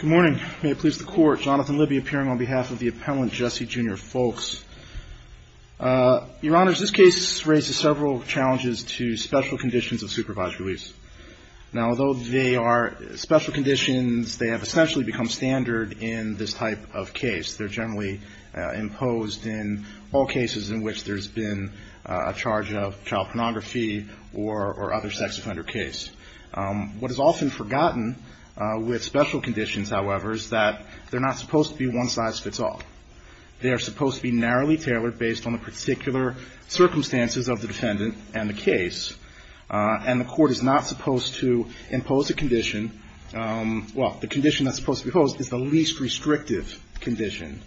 Good morning. May it please the court, Jonathan Libby appearing on behalf of the appellant Jesse Jr. Fowlkes. Your Honor, this case raises several challenges to special conditions of supervised release. Now, although they are special conditions, they have essentially become standard in this type of case. They're generally imposed in all cases in which there's been a charge of child pornography or other sex offender case. What is often forgotten with special conditions, however, is that they're not supposed to be one-size-fits-all. They are supposed to be narrowly tailored based on the particular circumstances of the defendant and the case. And the court is not supposed to impose a condition – well, the condition that's supposed to be imposed is the least restrictive condition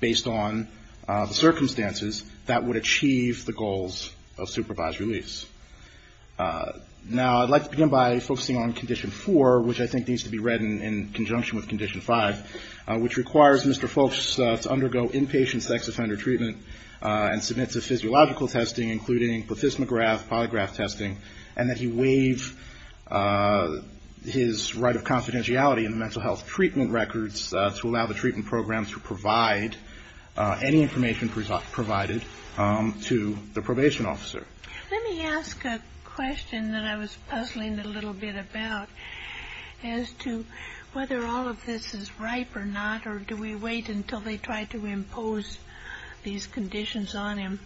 based on the circumstances that would achieve the goals of supervised release. Now, I'd like to begin by focusing on Condition 4, which I think needs to be read in conjunction with Condition 5, which requires Mr. Fowlkes to undergo inpatient sex offender treatment and submit to physiological testing, including plethysmograph, polygraph testing, and that he waive his right of confidentiality in the mental health treatment records to allow the treatment programs to provide any information provided to the probation officer. Let me ask a question that I was puzzling a little bit about as to whether all of this is ripe or not, or do we wait until they try to impose these conditions on him?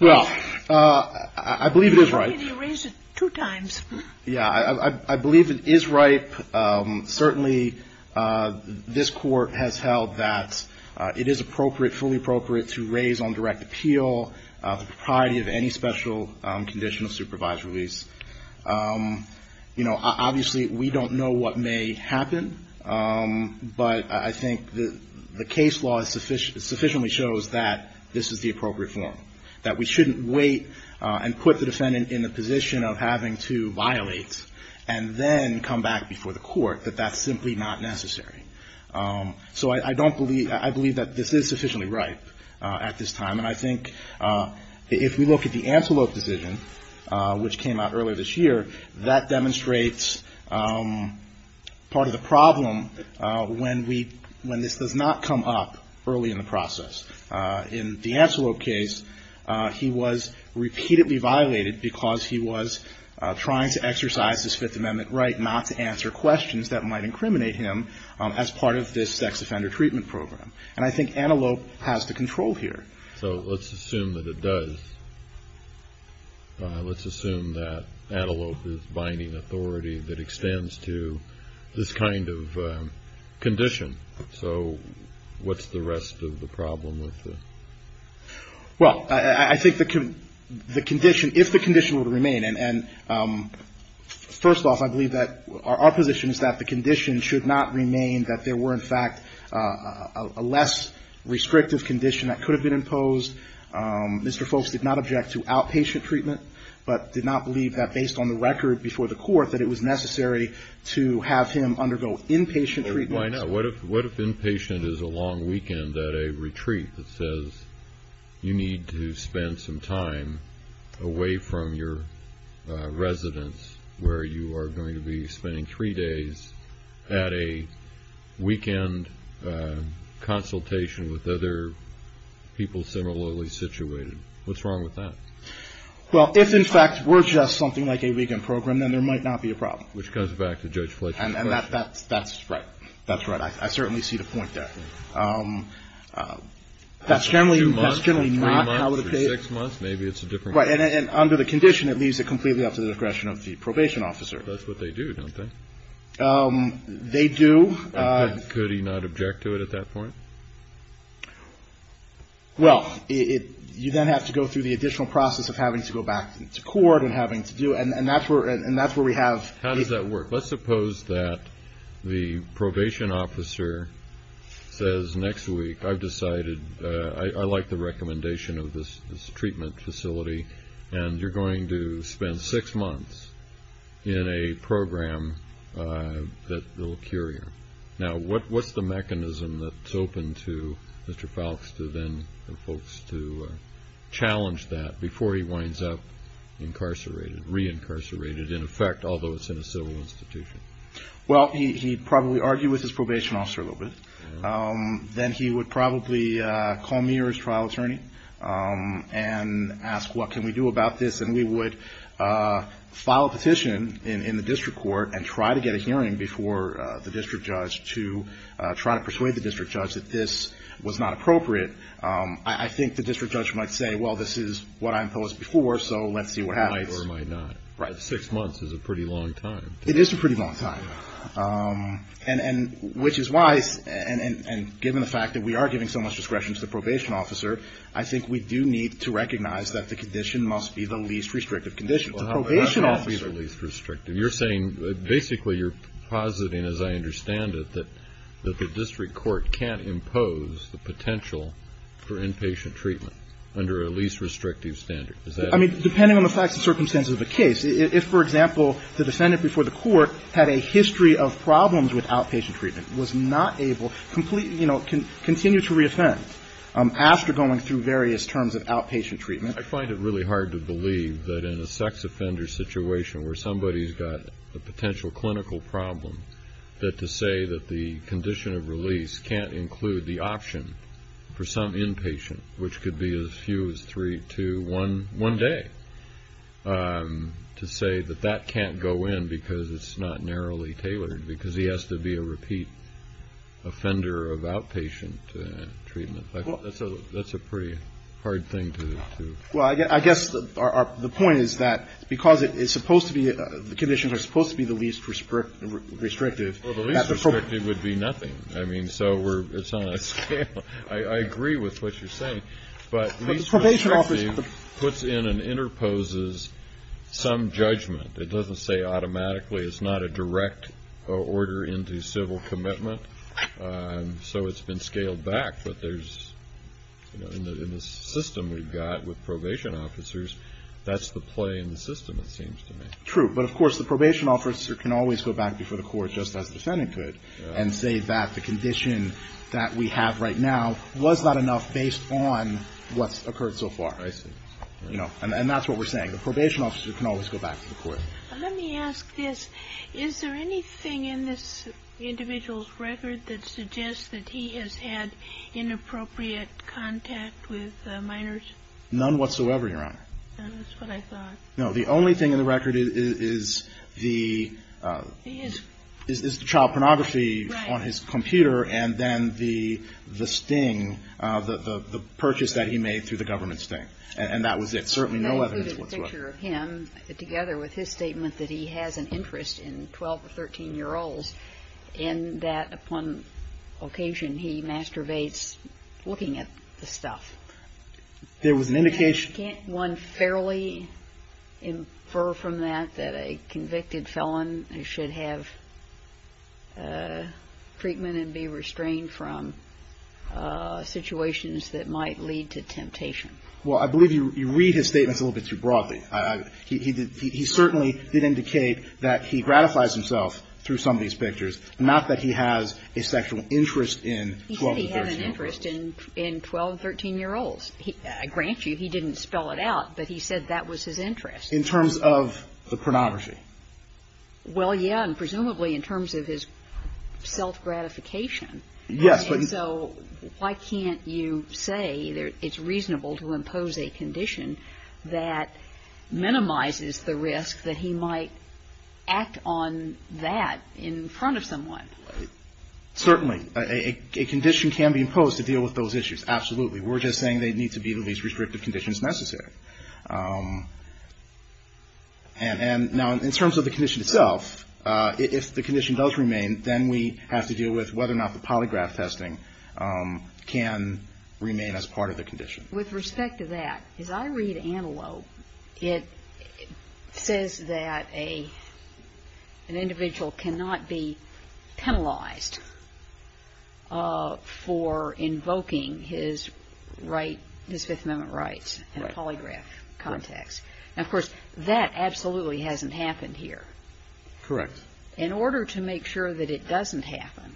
Well, I believe it is ripe. You raised it two times. Yeah, I believe it is ripe. Certainly, this Court has held that it is appropriate, fully appropriate, to raise on direct appeal the propriety of any special conditional supervised release. You know, obviously, we don't know what may happen, but I think the case law sufficiently shows that this is the appropriate form, that we shouldn't wait and put the defendant in a position of having to violate and then come back before the court. That that's simply not necessary. So I believe that this is sufficiently ripe at this time, and I think if we look at the Antelope decision, which came out earlier this year, that demonstrates part of the problem when this does not come up early in the process. In the Antelope case, he was repeatedly violated because he was trying to exercise his Fifth Amendment right not to answer questions. That might incriminate him as part of this sex offender treatment program. And I think Antelope has the control here. So let's assume that it does. Let's assume that Antelope is binding authority that extends to this kind of condition. So what's the rest of the problem with this? Well, I think the condition, if the condition were to remain, and first off, I believe that our position is that the condition should not remain that there were, in fact, a less restrictive condition that could have been imposed. Mr. Folks did not object to outpatient treatment, but did not believe that based on the record before the court that it was necessary to have him undergo inpatient treatment. Why not? What if inpatient is a long weekend at a retreat that says you need to spend some time away from your residence where you are going to be spending three days at a weekend consultation with other people similarly situated? What's wrong with that? Well, if, in fact, were just something like a weekend program, then there might not be a problem. Which goes back to Judge Fletcher's question. And that's right. That's right. I certainly see the point there. That's generally not how it would be. Two months or three months or six months, maybe it's a different question. Right. And under the condition, it leaves it completely up to the discretion of the probation officer. That's what they do, don't they? They do. Could he not object to it at that point? Well, you then have to go through the additional process of having to go back to court and having to do it. And that's where we have. How does that work? Let's suppose that the probation officer says next week, I've decided I like the recommendation of this treatment facility, and you're going to spend six months in a program that will cure you. Now, what's the mechanism that's open to Mr. Falks to then folks to challenge that before he winds up incarcerated, re-incarcerated in effect, although it's in a civil institution? Well, he'd probably argue with his probation officer a little bit. Then he would probably call me or his trial attorney and ask, what can we do about this? And we would file a petition in the district court and try to get a hearing before the district judge to try to persuade the district judge that this was not appropriate. I think the district judge might say, well, this is what I imposed before, so let's see what happens. He might or might not. Right. Six months is a pretty long time. It is a pretty long time. And which is why, and given the fact that we are giving so much discretion to the probation officer, I think we do need to recognize that the condition must be the least restrictive condition. Well, how is it least restrictive? You're saying basically you're positing, as I understand it, that the district court can't impose the potential for inpatient treatment under a least restrictive standard. I mean, depending on the facts and circumstances of the case. If, for example, the defendant before the court had a history of problems with outpatient treatment, was not able, completely, you know, continue to reoffend after going through various terms of outpatient treatment. I find it really hard to believe that in a sex offender situation where somebody has got a potential clinical problem, that to say that the condition of release can't include the option for some inpatient, which could be as few as three, two, one, one day. To say that that can't go in because it's not narrowly tailored, because he has to be a repeat offender of outpatient treatment. That's a pretty hard thing to. Well, I guess the point is that because it's supposed to be, the conditions are supposed to be the least restrictive. Well, the least restrictive would be nothing. I mean, so it's on a scale. I agree with what you're saying. But the least restrictive puts in and interposes some judgment. It doesn't say automatically it's not a direct order into civil commitment. So it's been scaled back. But there's, you know, in the system we've got with probation officers, that's the play in the system, it seems to me. True. But, of course, the probation officer can always go back before the court just as the defendant could and say that the condition that we have right now was not enough based on what's occurred so far. I see. You know, and that's what we're saying. The probation officer can always go back to the court. Let me ask this. Is there anything in this individual's record that suggests that he has had inappropriate contact with minors? None whatsoever, Your Honor. That's what I thought. No, the only thing in the record is the child pornography on his computer. Right. And then the sting, the purchase that he made through the government sting. And that was it. Certainly no evidence whatsoever. I included a picture of him together with his statement that he has an interest in 12- or 13-year-olds, and that upon occasion he masturbates looking at the stuff. There was an indication. Can't one fairly infer from that that a convicted felon should have treatment and be restrained from situations that might lead to temptation? Well, I believe you read his statements a little bit too broadly. He certainly did indicate that he gratifies himself through some of these pictures, not that he has a sexual interest in 12- or 13-year-olds. He said he had an interest in 12- or 13-year-olds. I grant you he didn't spell it out, but he said that was his interest. In terms of the pornography? Well, yeah, and presumably in terms of his self-gratification. Yes, but he's ---- And so why can't you say that it's reasonable to impose a condition that minimizes the risk that he might act on that in front of someone? Certainly. A condition can be imposed to deal with those issues. Absolutely. We're just saying they need to be the least restrictive conditions necessary. And now in terms of the condition itself, if the condition does remain, then we have to deal with whether or not the polygraph testing can remain as part of the condition. With respect to that, as I read Antelope, it says that an individual cannot be penalized for invoking his right, his Fifth Amendment rights in a polygraph context. Of course, that absolutely hasn't happened here. Correct. In order to make sure that it doesn't happen,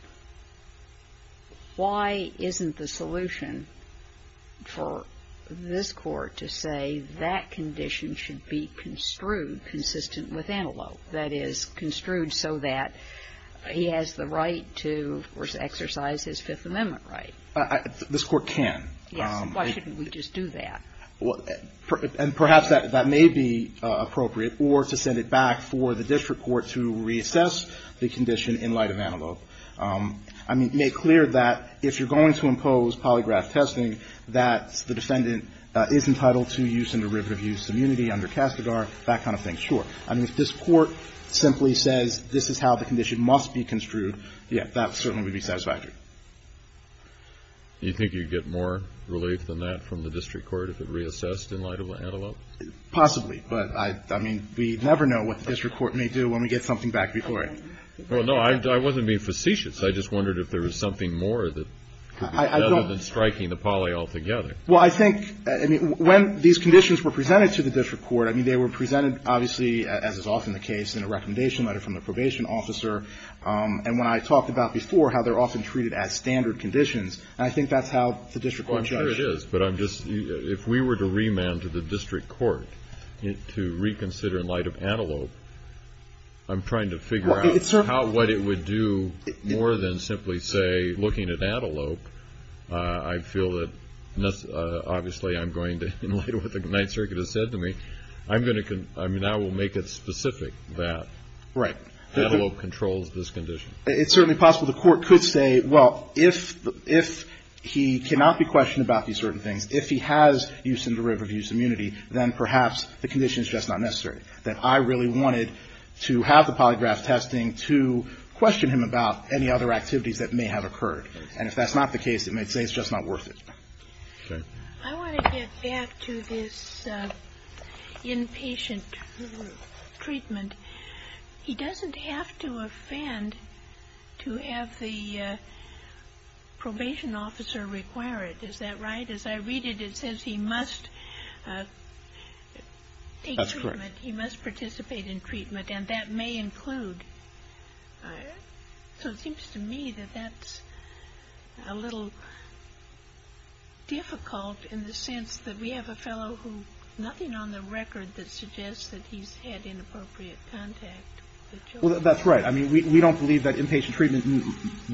why isn't the solution for this Court to say that condition should be construed, consistent with Antelope, that is, construed so that he has the right to, of course, exercise his Fifth Amendment right? This Court can. Yes. Why shouldn't we just do that? And perhaps that may be appropriate or to send it back for the district court to reassess the condition in light of Antelope. I mean, make clear that if you're going to impose polygraph testing, that the defendant is entitled to use and derivative use immunity under Castigar, that kind of thing. Sure. I mean, if this Court simply says this is how the condition must be construed, yeah, that certainly would be satisfactory. Do you think you'd get more relief than that from the district court if it reassessed in light of Antelope? Possibly. But, I mean, we never know what the district court may do when we get something back before it. Well, no, I wasn't being facetious. I just wondered if there was something more that could be done other than striking the poly altogether. Well, I think, I mean, when these conditions were presented to the district court, I mean, they were presented, obviously, as is often the case, in a recommendation letter from the probation officer. And when I talked about before how they're often treated as standard conditions, I think that's how the district court judges. Well, I'm sure it is. But I'm just, if we were to remand to the district court to reconsider in light of Antelope, I'm trying to figure out how, what it would do more than simply say, looking at Antelope, I feel that, obviously, I'm going to, in light of what the Ninth Circuit has said to me, I'm going to, I mean, I will make it specific that Antelope controls this condition. It's certainly possible the court could say, well, if he cannot be questioned about these certain things, if he has use and derivative of use immunity, then perhaps the condition is just not necessary. That I really wanted to have the polygraph testing to question him about any other activities that may have occurred. And if that's not the case, it may say it's just not worth it. Okay. I want to get back to this inpatient treatment. He doesn't have to offend to have the probation officer require it. Is that right? As I read it, it says he must take treatment. He must participate in treatment, and that may include. So it seems to me that that's a little difficult in the sense that we have a fellow who, nothing on the record that suggests that he's had inappropriate contact with children. Well, that's right. I mean, we don't believe that inpatient treatment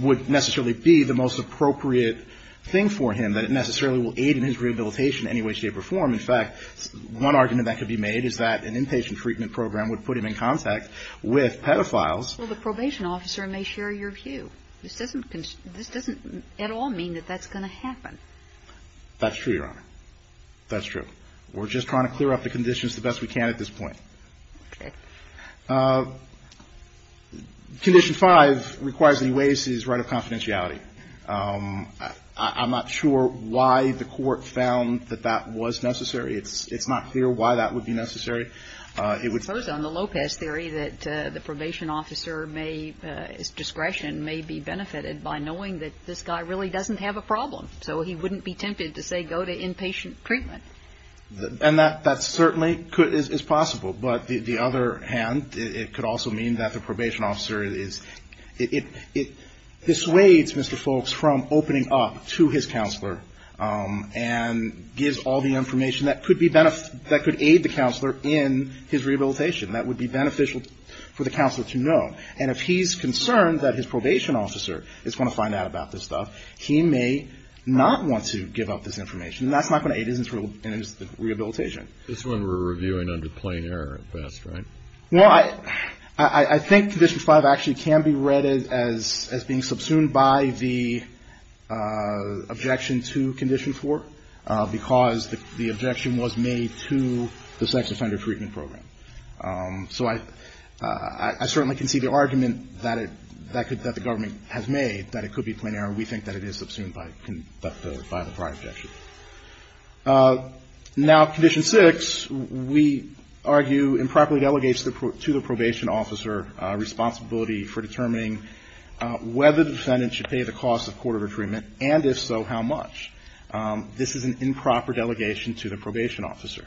would necessarily be the most appropriate thing for him, that it necessarily will aid in his rehabilitation in any way, shape, or form. In fact, one argument that could be made is that an inpatient treatment program would put him in contact with pedophiles. Well, the probation officer may share your view. This doesn't at all mean that that's going to happen. That's true, Your Honor. That's true. We're just trying to clear up the conditions the best we can at this point. Okay. Condition 5 requires that he waives his right of confidentiality. I'm not sure why the Court found that that was necessary. It's not clear why that would be necessary. It would. First, on the Lopez theory, that the probation officer may, his discretion may be benefited by knowing that this guy really doesn't have a problem. So he wouldn't be tempted to say go to inpatient treatment. And that certainly could, is possible. But the other hand, it could also mean that the probation officer is. It dissuades Mr. Foulkes from opening up to his counselor and gives all the information that could be, that could aid the counselor in his rehabilitation, that would be beneficial for the counselor to know. And if he's concerned that his probation officer is going to find out about this stuff, he may not want to give up this information. And that's not going to aid his rehabilitation. That's when we're reviewing under plain error at best, right? Well, I think Condition 5 actually can be read as being subsumed by the objection to Condition 4, because the objection was made to the sex offender treatment program. So I certainly can see the argument that the government has made, that it could be plain error. We think that it is subsumed by the prior objection. Now, Condition 6, we argue improperly delegates to the probation officer responsibility for determining whether the defendant should pay the cost of court order treatment, and if so, how much. This is an improper delegation to the probation officer.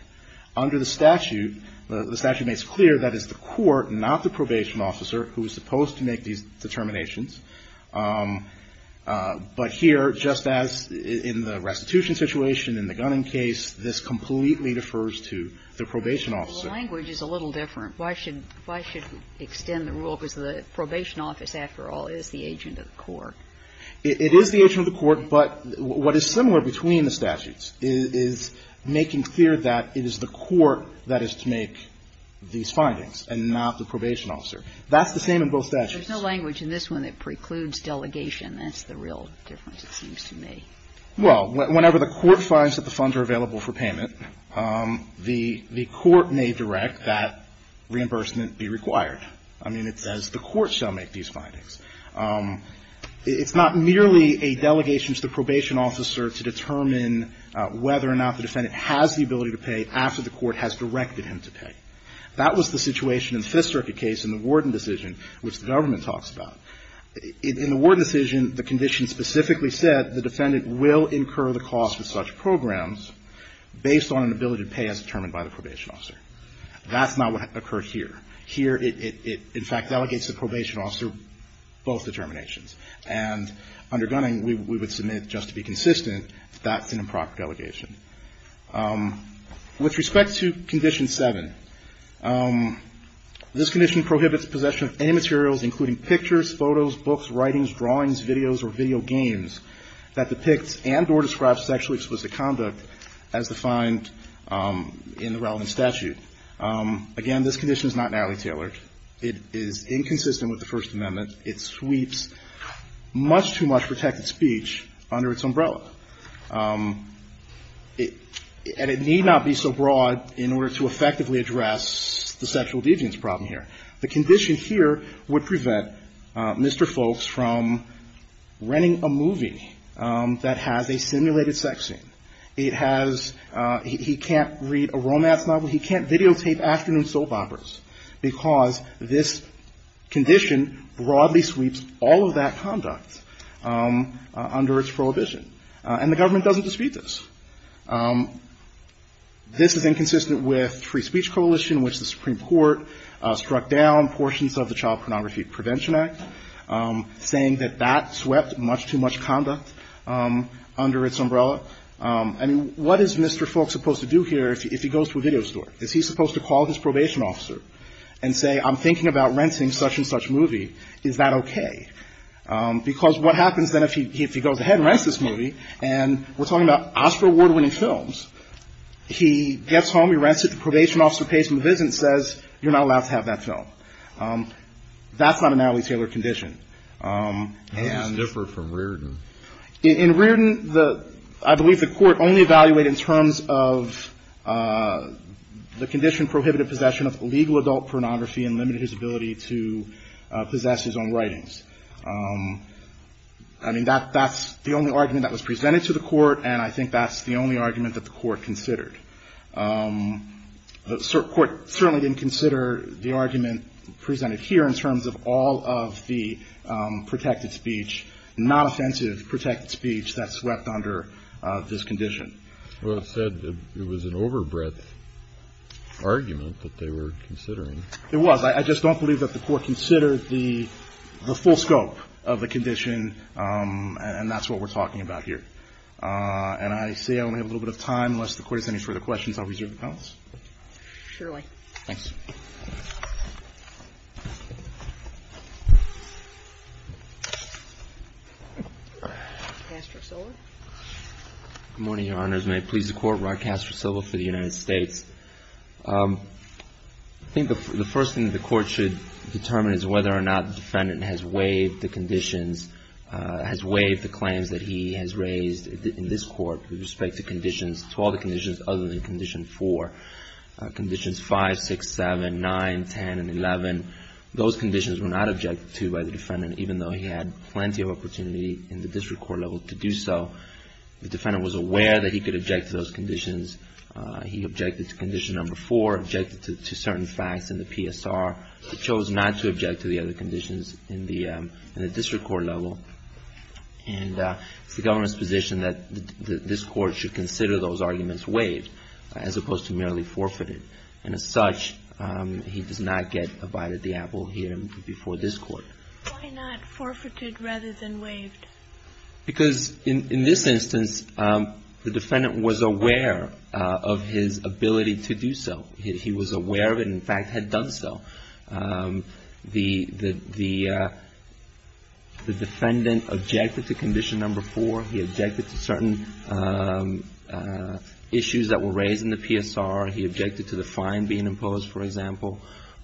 Under the statute, the statute makes clear that it's the court, not the probation officer, who is supposed to make these determinations. But here, just as in the restitution situation, in the Gunning case, this completely defers to the probation officer. The language is a little different. Why should we extend the rule because the probation office, after all, is the agent of the court? It is the agent of the court, but what is similar between the statutes is making clear that it is the court that is to make these findings and not the probation officer. That's the same in both statutes. There's no language in this one that precludes delegation. That's the real difference, it seems to me. Well, whenever the court finds that the funds are available for payment, the court may direct that reimbursement be required. I mean, it says the court shall make these findings. It's not merely a delegation to the probation officer to determine whether or not the defendant has the ability to pay after the court has directed him to pay. That was the situation in the Fifth Circuit case in the Warden decision, which the government talks about. In the Warden decision, the condition specifically said the defendant will incur the cost of such programs based on an ability to pay as determined by the probation officer. That's not what occurred here. Here, it in fact delegates the probation officer both determinations. And under Gunning, we would submit, just to be consistent, that's an improper delegation. With respect to Condition 7, this condition prohibits possession of any materials including pictures, photos, books, writings, drawings, videos, or video games that depicts and or describes sexually explicit conduct as defined in the relevant statute. Again, this condition is not narrowly tailored. It is inconsistent with the First Amendment. It sweeps much too much protected speech under its umbrella. And it need not be so broad in order to effectively address the sexual allegiance problem here. The condition here would prevent Mr. Folks from renting a movie that has a simulated sex scene. It has he can't read a romance novel. He can't videotape afternoon soap operas, because this condition broadly sweeps all of that conduct under its prohibition. And the government doesn't dispute this. This is inconsistent with Free Speech Coalition, which the Supreme Court struck down portions of the Child Pornography Prevention Act, saying that that swept much too much conduct under its umbrella. And what is Mr. Folks supposed to do here if he goes to a video store? Is he supposed to call his probation officer and say, I'm thinking about renting such and such movie. Is that okay? Because what happens then if he goes ahead and rents this movie, and we're talking about Oscar award-winning films, he gets home, he rents it, the probation officer pays him a visit and says, you're not allowed to have that film. That's not a narrowly tailored condition. And the court only evaluated in terms of the condition prohibited possession of illegal adult pornography and limited his ability to possess his own writings. I mean, that's the only argument that was presented to the court, and I think that's the only argument that the court considered. The court certainly didn't consider the argument presented here in terms of all of the protected speech, non-offensive protected speech that swept under this condition. Well, it said it was an overbreadth argument that they were considering. It was. I just don't believe that the court considered the full scope of the condition, and that's what we're talking about here. And I say I only have a little bit of time. Unless the Court has any further questions, I'll reserve the balance. Surely. Thanks. Rod Castro-Silva. Good morning, Your Honors. May it please the Court, Rod Castro-Silva for the United States. I think the first thing the Court should determine is whether or not the defendant has waived the conditions, has waived the claims that he has raised in this Court with respect to conditions, to all the conditions other than Condition 4. Conditions 5, 6, 7, 9, 10, and 11, those conditions were not objected to by the defendant, even though he had plenty of opportunity in the district court level to do so. He objected to Condition 4, objected to certain facts in the PSR. He chose not to object to the other conditions in the district court level. And it's the government's position that this Court should consider those arguments waived, as opposed to merely forfeited. And as such, he does not get a bite of the apple here before this Court. Why not forfeited rather than waived? Because in this instance, the defendant was aware of his ability to do so. He was aware of it and, in fact, had done so. The defendant objected to Condition 4. He objected to certain issues that were raised in the PSR. He objected to the fine being imposed, for example,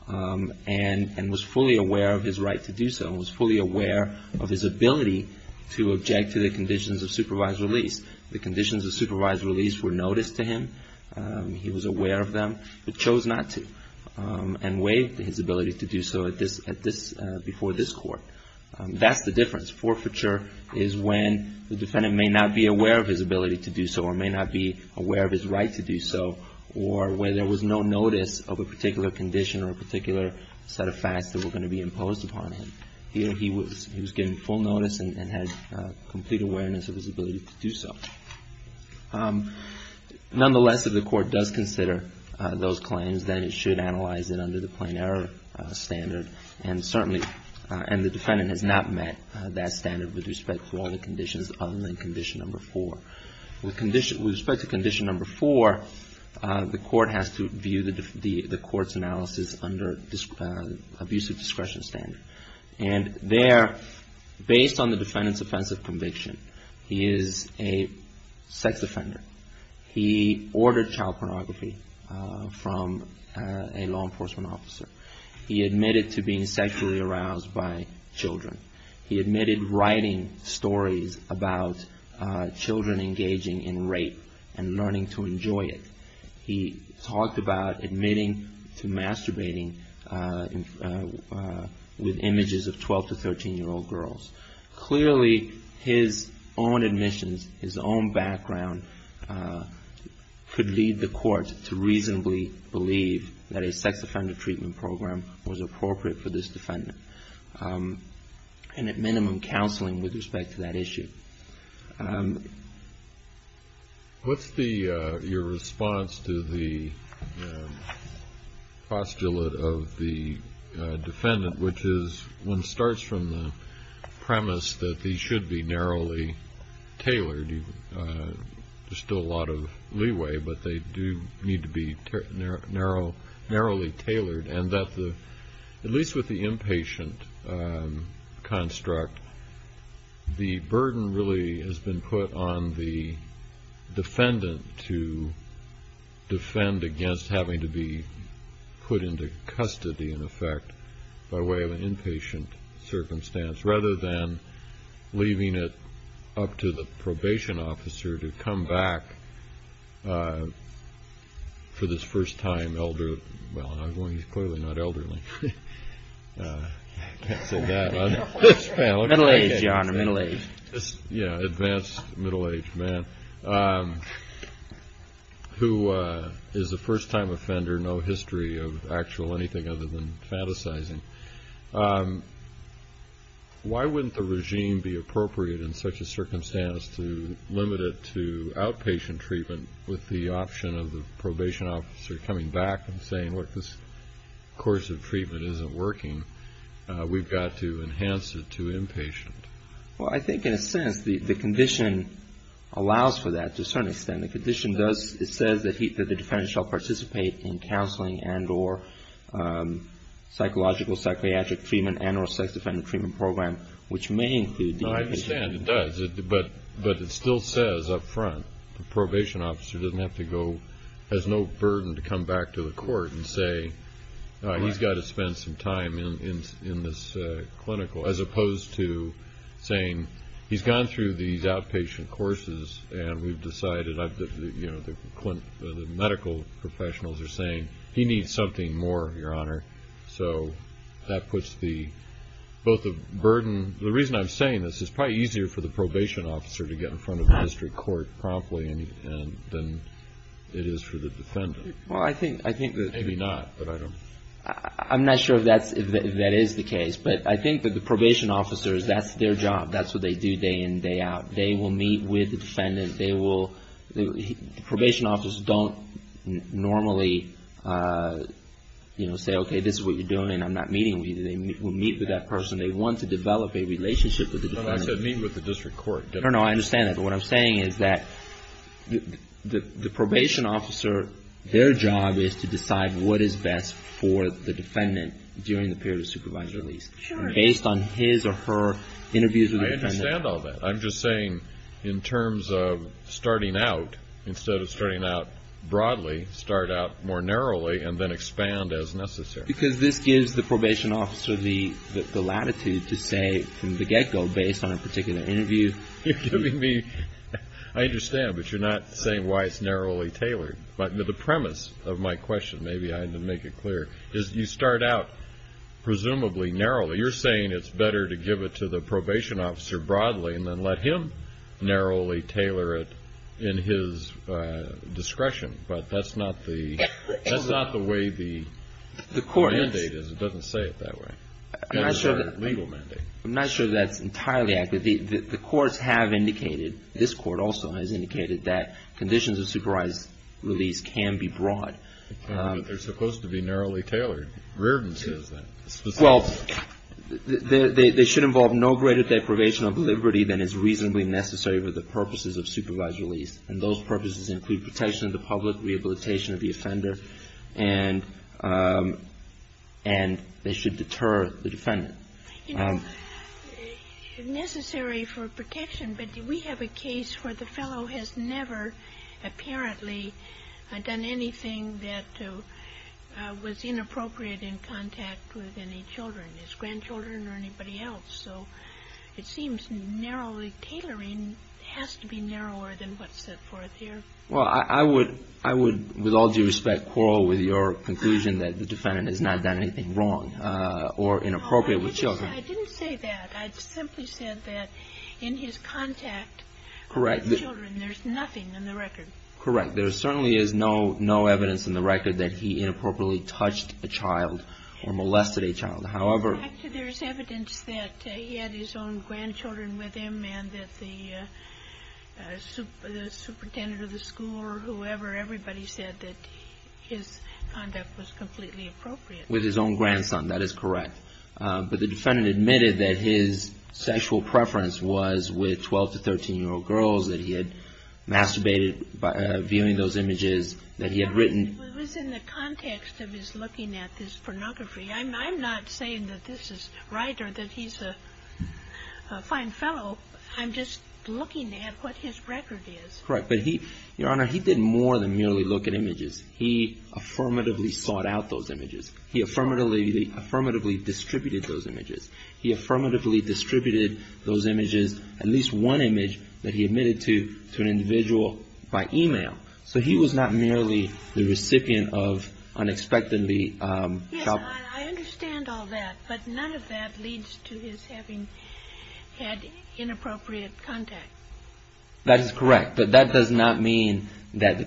and was fully aware of his right to do so. He was fully aware of his ability to object to the conditions of supervised release. The conditions of supervised release were noticed to him. He was aware of them but chose not to and waived his ability to do so before this Court. That's the difference. Forfeiture is when the defendant may not be aware of his ability to do so or may not be aware of his right to do so or when there was no notice of a particular condition or a particular set of facts that were going to be imposed upon him. Here he was getting full notice and had complete awareness of his ability to do so. Nonetheless, if the Court does consider those claims, then it should analyze it under the plain error standard. And certainly the defendant has not met that standard with respect to all the conditions other than Condition 4. With respect to Condition 4, the Court has to view the Court's analysis under abusive discretion standard. And there, based on the defendant's offensive conviction, he is a sex offender. He ordered child pornography from a law enforcement officer. He admitted to being sexually aroused by children. He admitted writing stories about children engaging in rape and learning to enjoy it. He talked about admitting to masturbating with images of 12 to 13-year-old girls. Clearly, his own admissions, his own background, could lead the Court to reasonably believe that a sex offender treatment program was appropriate for this defendant. And at minimum, counseling with respect to that issue. What's your response to the postulate of the defendant, which is one starts from the premise that these should be narrowly tailored. There's still a lot of leeway, but they do need to be narrowly tailored. At least with the inpatient construct, the burden really has been put on the defendant to defend against having to be put into custody, in effect, by way of an inpatient circumstance, rather than leaving it up to the probation officer to come back for this first-time elder. Well, clearly not elderly. I can't say that. Middle-aged, Your Honor, middle-aged. Yeah, advanced middle-aged man, who is a first-time offender, no history of actual anything other than fantasizing. Why wouldn't the regime be appropriate in such a circumstance to limit it to outpatient treatment with the option of the probation officer coming back and saying, look, this course of treatment isn't working. We've got to enhance it to inpatient. Well, I think in a sense the condition allows for that to a certain extent. The condition does. It says that the defendant shall participate in counseling and or psychological psychiatric treatment and or sex-defender treatment program, which may include the inpatient. I understand it does. But it still says up front, the probation officer doesn't have to go, has no burden to come back to the court and say, he's got to spend some time in this clinical, as opposed to saying, he's gone through these outpatient courses and we've decided the medical professionals are saying, he needs something more, Your Honor. So that puts both the burden. The reason I'm saying this, it's probably easier for the probation officer to get in front of the district court promptly than it is for the defendant. Maybe not, but I don't know. I'm not sure if that is the case. But I think that the probation officers, that's their job. That's what they do day in and day out. They will meet with the defendant. The probation officers don't normally say, okay, this is what you're doing. I'm not meeting with you. They will meet with that person. They want to develop a relationship with the defendant. I said meet with the district court. No, no, I understand that. But what I'm saying is that the probation officer, their job is to decide what is best for the defendant during the period of supervised release. Sure. Based on his or her interviews with the defendant. I understand all that. I'm just saying in terms of starting out, instead of starting out broadly, start out more narrowly and then expand as necessary. Because this gives the probation officer the latitude to say from the get-go, based on a particular interview. I understand, but you're not saying why it's narrowly tailored. But the premise of my question, maybe I didn't make it clear, is you start out presumably narrowly. You're saying it's better to give it to the probation officer broadly and then let him narrowly tailor it in his discretion. But that's not the way the mandate is. It doesn't say it that way. It's a legal mandate. I'm not sure that's entirely accurate. The courts have indicated, this Court also has indicated, that conditions of supervised release can be broad. But they're supposed to be narrowly tailored. Reardon says that. Well, they should involve no greater deprivation of liberty than is reasonably necessary for the purposes of supervised release. And those purposes include protection of the public, rehabilitation of the offender, and they should deter the defendant. You know, necessary for protection, but we have a case where the fellow has never apparently done anything that was inappropriate in contact with any children, his grandchildren or anybody else. So it seems narrowly tailoring has to be narrower than what's set forth here. Well, I would, with all due respect, quarrel with your conclusion that the defendant has not done anything wrong or inappropriate with children. I didn't say that. I simply said that in his contact with children, there's nothing in the record. Correct. There certainly is no evidence in the record that he inappropriately touched a child or molested a child. In fact, there's evidence that he had his own grandchildren with him and that the superintendent of the school or whoever, everybody said that his conduct was completely appropriate. With his own grandson. That is correct. But the defendant admitted that his sexual preference was with 12- to 13-year-old girls, that he had masturbated viewing those images that he had written. It was in the context of his looking at this pornography. I'm not saying that this is right or that he's a fine fellow. I'm just looking at what his record is. Correct. But, Your Honor, he didn't more than merely look at images. He affirmatively sought out those images. He affirmatively distributed those images. He affirmatively distributed those images, at least one image that he admitted to an individual by e-mail. So he was not merely the recipient of unexpectedly- Yes, I understand all that. But none of that leads to his having had inappropriate contact. That is correct. But that does not mean that the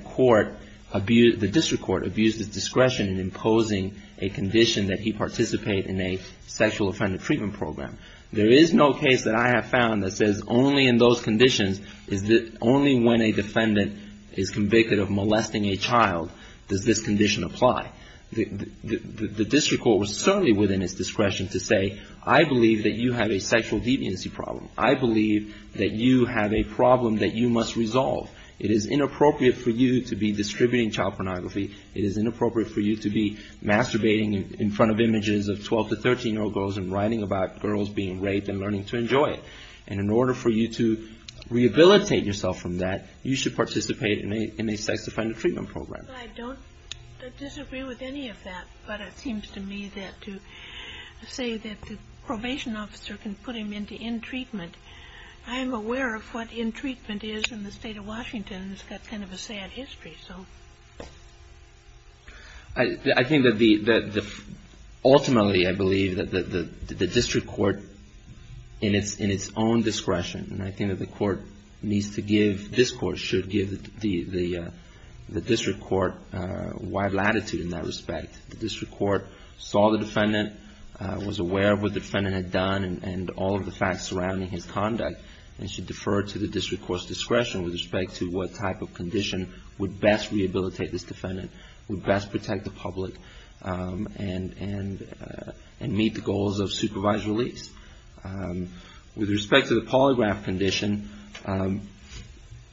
district court abused his discretion in imposing a condition that he participate in a sexual offender treatment program. There is no case that I have found that says only in those conditions, only when a defendant is convicted of molesting a child does this condition apply. The district court was certainly within its discretion to say, I believe that you have a sexual deviancy problem. I believe that you have a problem that you must resolve. It is inappropriate for you to be distributing child pornography. It is inappropriate for you to be masturbating in front of images of 12- to 13-year-old girls and writing about girls being raped and learning to enjoy it. And in order for you to rehabilitate yourself from that, you should participate in a sex offender treatment program. I don't disagree with any of that. But it seems to me that to say that the probation officer can put him into in-treatment, I am aware of what in-treatment is in the State of Washington. It's got kind of a sad history. I think that ultimately I believe that the district court, in its own discretion, and I think that the court needs to give, this court should give the district court wide latitude in that respect. The district court saw the defendant, was aware of what the defendant had done and all of the facts surrounding his conduct, and should defer to the district court's discretion with respect to what type of condition would best rehabilitate this defendant, would best protect the public, and meet the goals of supervised release. With respect to the polygraph condition,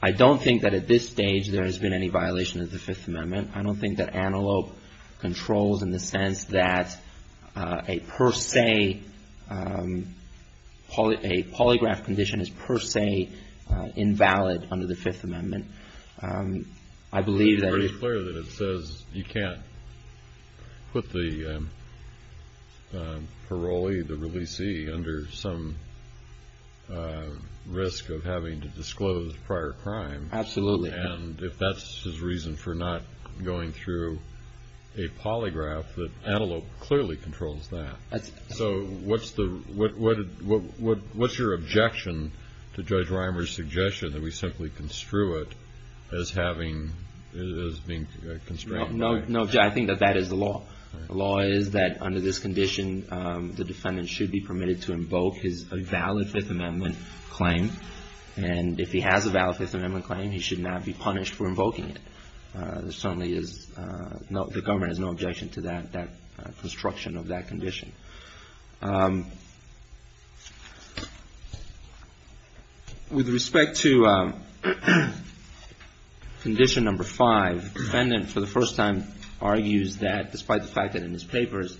I don't think that at this stage there has been any violation of the Fifth Amendment. I don't think that Antelope controls in the sense that a per se, a polygraph condition is per se invalid under the Fifth Amendment. It's pretty clear that it says you can't put the parolee, the releasee, under some risk of having to disclose prior crime. Absolutely. And if that's his reason for not going through a polygraph, Antelope clearly controls that. So what's your objection to Judge Reimer's suggestion that we simply construe it as having, as being constrained? No, Judge, I think that that is the law. The law is that under this condition, the defendant should be permitted to invoke his valid Fifth Amendment claim, and if he has a valid Fifth Amendment claim, he should not be punished for invoking it. There certainly is no, the government has no objection to that construction of that condition. With respect to condition number five, the defendant for the first time argues that, despite the fact that in his papers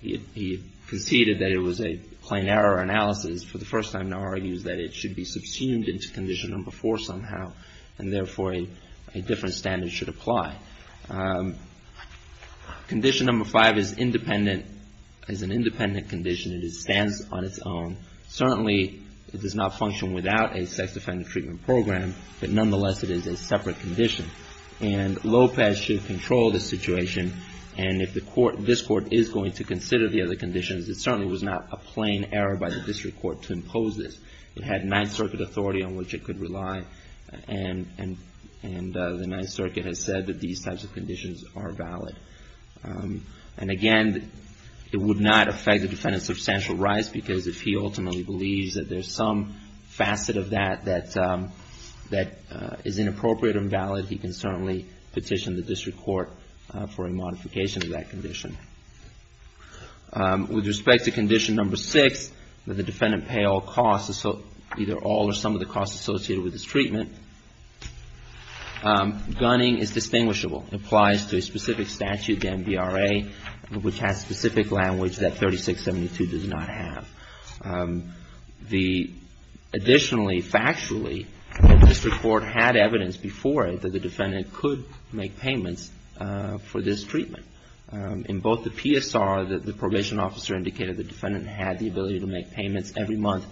he conceded that it was a plain error analysis, for the first time now argues that it should be subsumed into condition number four somehow, and therefore a different standard should apply. Condition number five is independent, is an independent condition. It stands on its own. Certainly it does not function without a sex-offended treatment program, but nonetheless it is a separate condition. And Lopez should control the situation, and if the court, this court is going to consider the other conditions, it certainly was not a plain error by the district court to impose this. It had Ninth Circuit authority on which it could rely, and the Ninth Circuit has said that these types of conditions are valid. And again, it would not affect the defendant's substantial rights, because if he ultimately believes that there's some facet of that that is inappropriate and valid, he can certainly petition the district court for a modification of that condition. With respect to condition number six, that the defendant pay all costs, either all or some of the costs associated with this treatment, gunning is distinguishable. It applies to a specific statute, the NBRA, which has specific language that 3672 does not have. Additionally, factually, the district court had evidence before it that the defendant could make payments for this treatment. In both the PSR, the probation officer indicated the defendant had the ability to make payments every month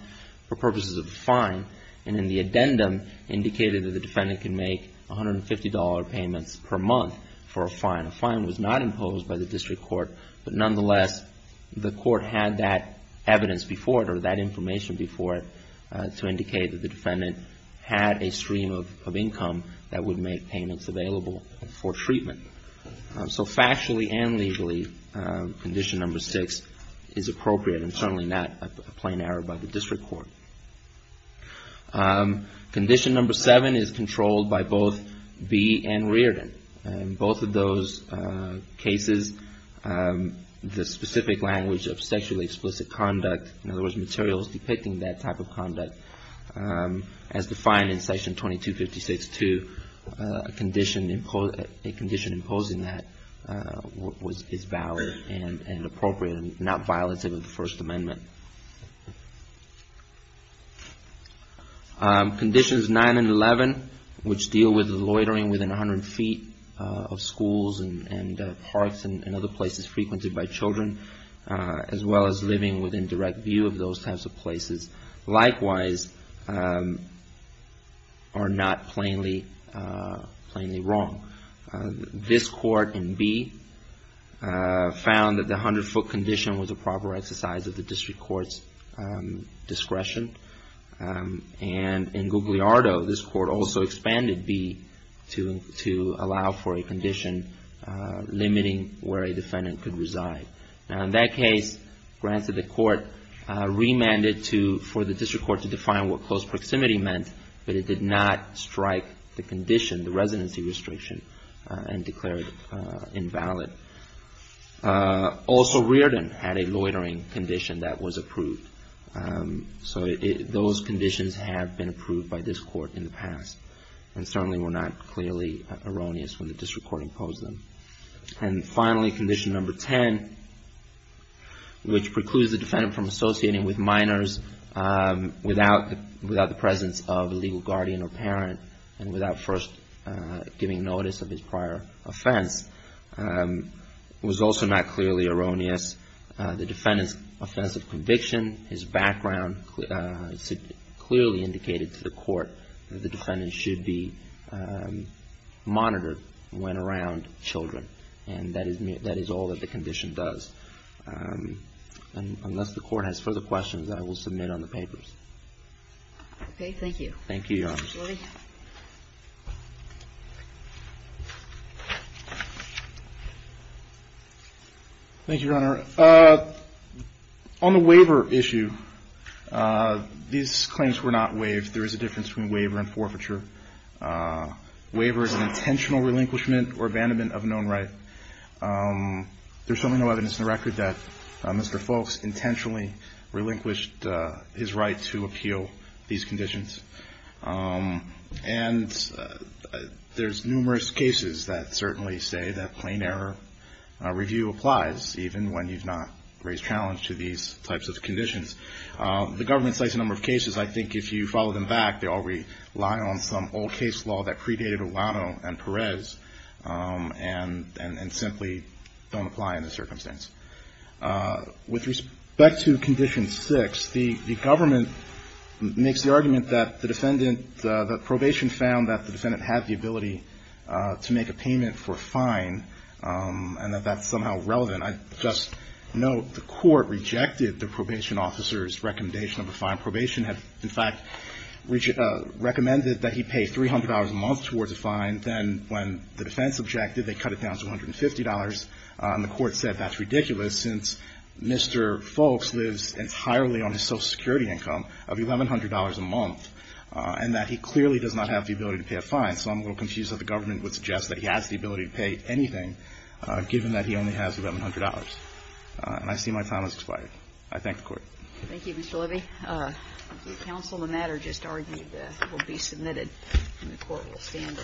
for purposes of a fine, and in the addendum indicated that the defendant can make $150 payments per month for a fine. A fine was not imposed by the district court, but nonetheless the court had that evidence before it or that information before it to indicate that the defendant had a stream of income that would make payments available for treatment. So factually and legally, condition number six is appropriate and certainly not a plain error by the district court. Condition number seven is controlled by both Bee and Reardon. In both of those cases, the specific language of sexually explicit conduct, in other words, materials depicting that type of conduct, as defined in section 2256-2, a condition imposing that is valid and appropriate and not violative of the First Amendment. Conditions nine and 11, which deal with loitering within 100 feet of schools and parks and other places frequented by children, as well as living within direct view of those types of places. Likewise, are not plainly wrong. This court in Bee found that the 100-foot condition was a proper exercise of the district court's discretion. And in Gugliardo, this court also expanded Bee to allow for a condition limiting where a defendant could reside. Now, in that case, granted the court remanded for the district court to define what close proximity meant, but it did not strike the condition, the residency restriction, and declared it invalid. Also, Reardon had a loitering condition that was approved. So those conditions have been approved by this court in the past and certainly were not clearly erroneous when the district court imposed them. And finally, condition number 10, which precludes the defendant from associating with minors without the presence of a legal guardian or parent and without first giving notice of his prior offense, was also not clearly erroneous. The defendant's offense of conviction, his background, clearly indicated to the court that the defendant should be monitored when around children. And that is all that the condition does. Unless the court has further questions, I will submit on the papers. Okay, thank you. Thank you, Your Honor. Thank you, Your Honor. On the waiver issue, these claims were not waived. There is a difference between waiver and forfeiture. Waiver is an intentional relinquishment or abandonment of a known right. There's certainly no evidence in the record that Mr. Folks intentionally relinquished his right to appeal these conditions. And there's numerous cases that certainly say that plain error review applies, even when you've not raised challenge to these types of conditions. The government cites a number of cases. I think if you follow them back, they all rely on some old case law that predated Olano and Perez and simply don't apply in this circumstance. With respect to Condition 6, the government makes the argument that the defendant, that probation found that the defendant had the ability to make a payment for a fine and that that's somehow relevant. I just note the court rejected the probation officer's recommendation of a fine. Probation had, in fact, recommended that he pay $300 a month towards a fine. Then when the defense objected, they cut it down to $150. And the court said that's ridiculous, since Mr. Folks lives entirely on his Social Security income of $1,100 a month, and that he clearly does not have the ability to pay a fine. So I'm a little confused that the government would suggest that he has the ability to pay anything, given that he only has $1,100. And I see my time has expired. I thank the court. Thank you, Mr. Levy. The counsel on the matter just argued that it will be submitted, and the court will stand.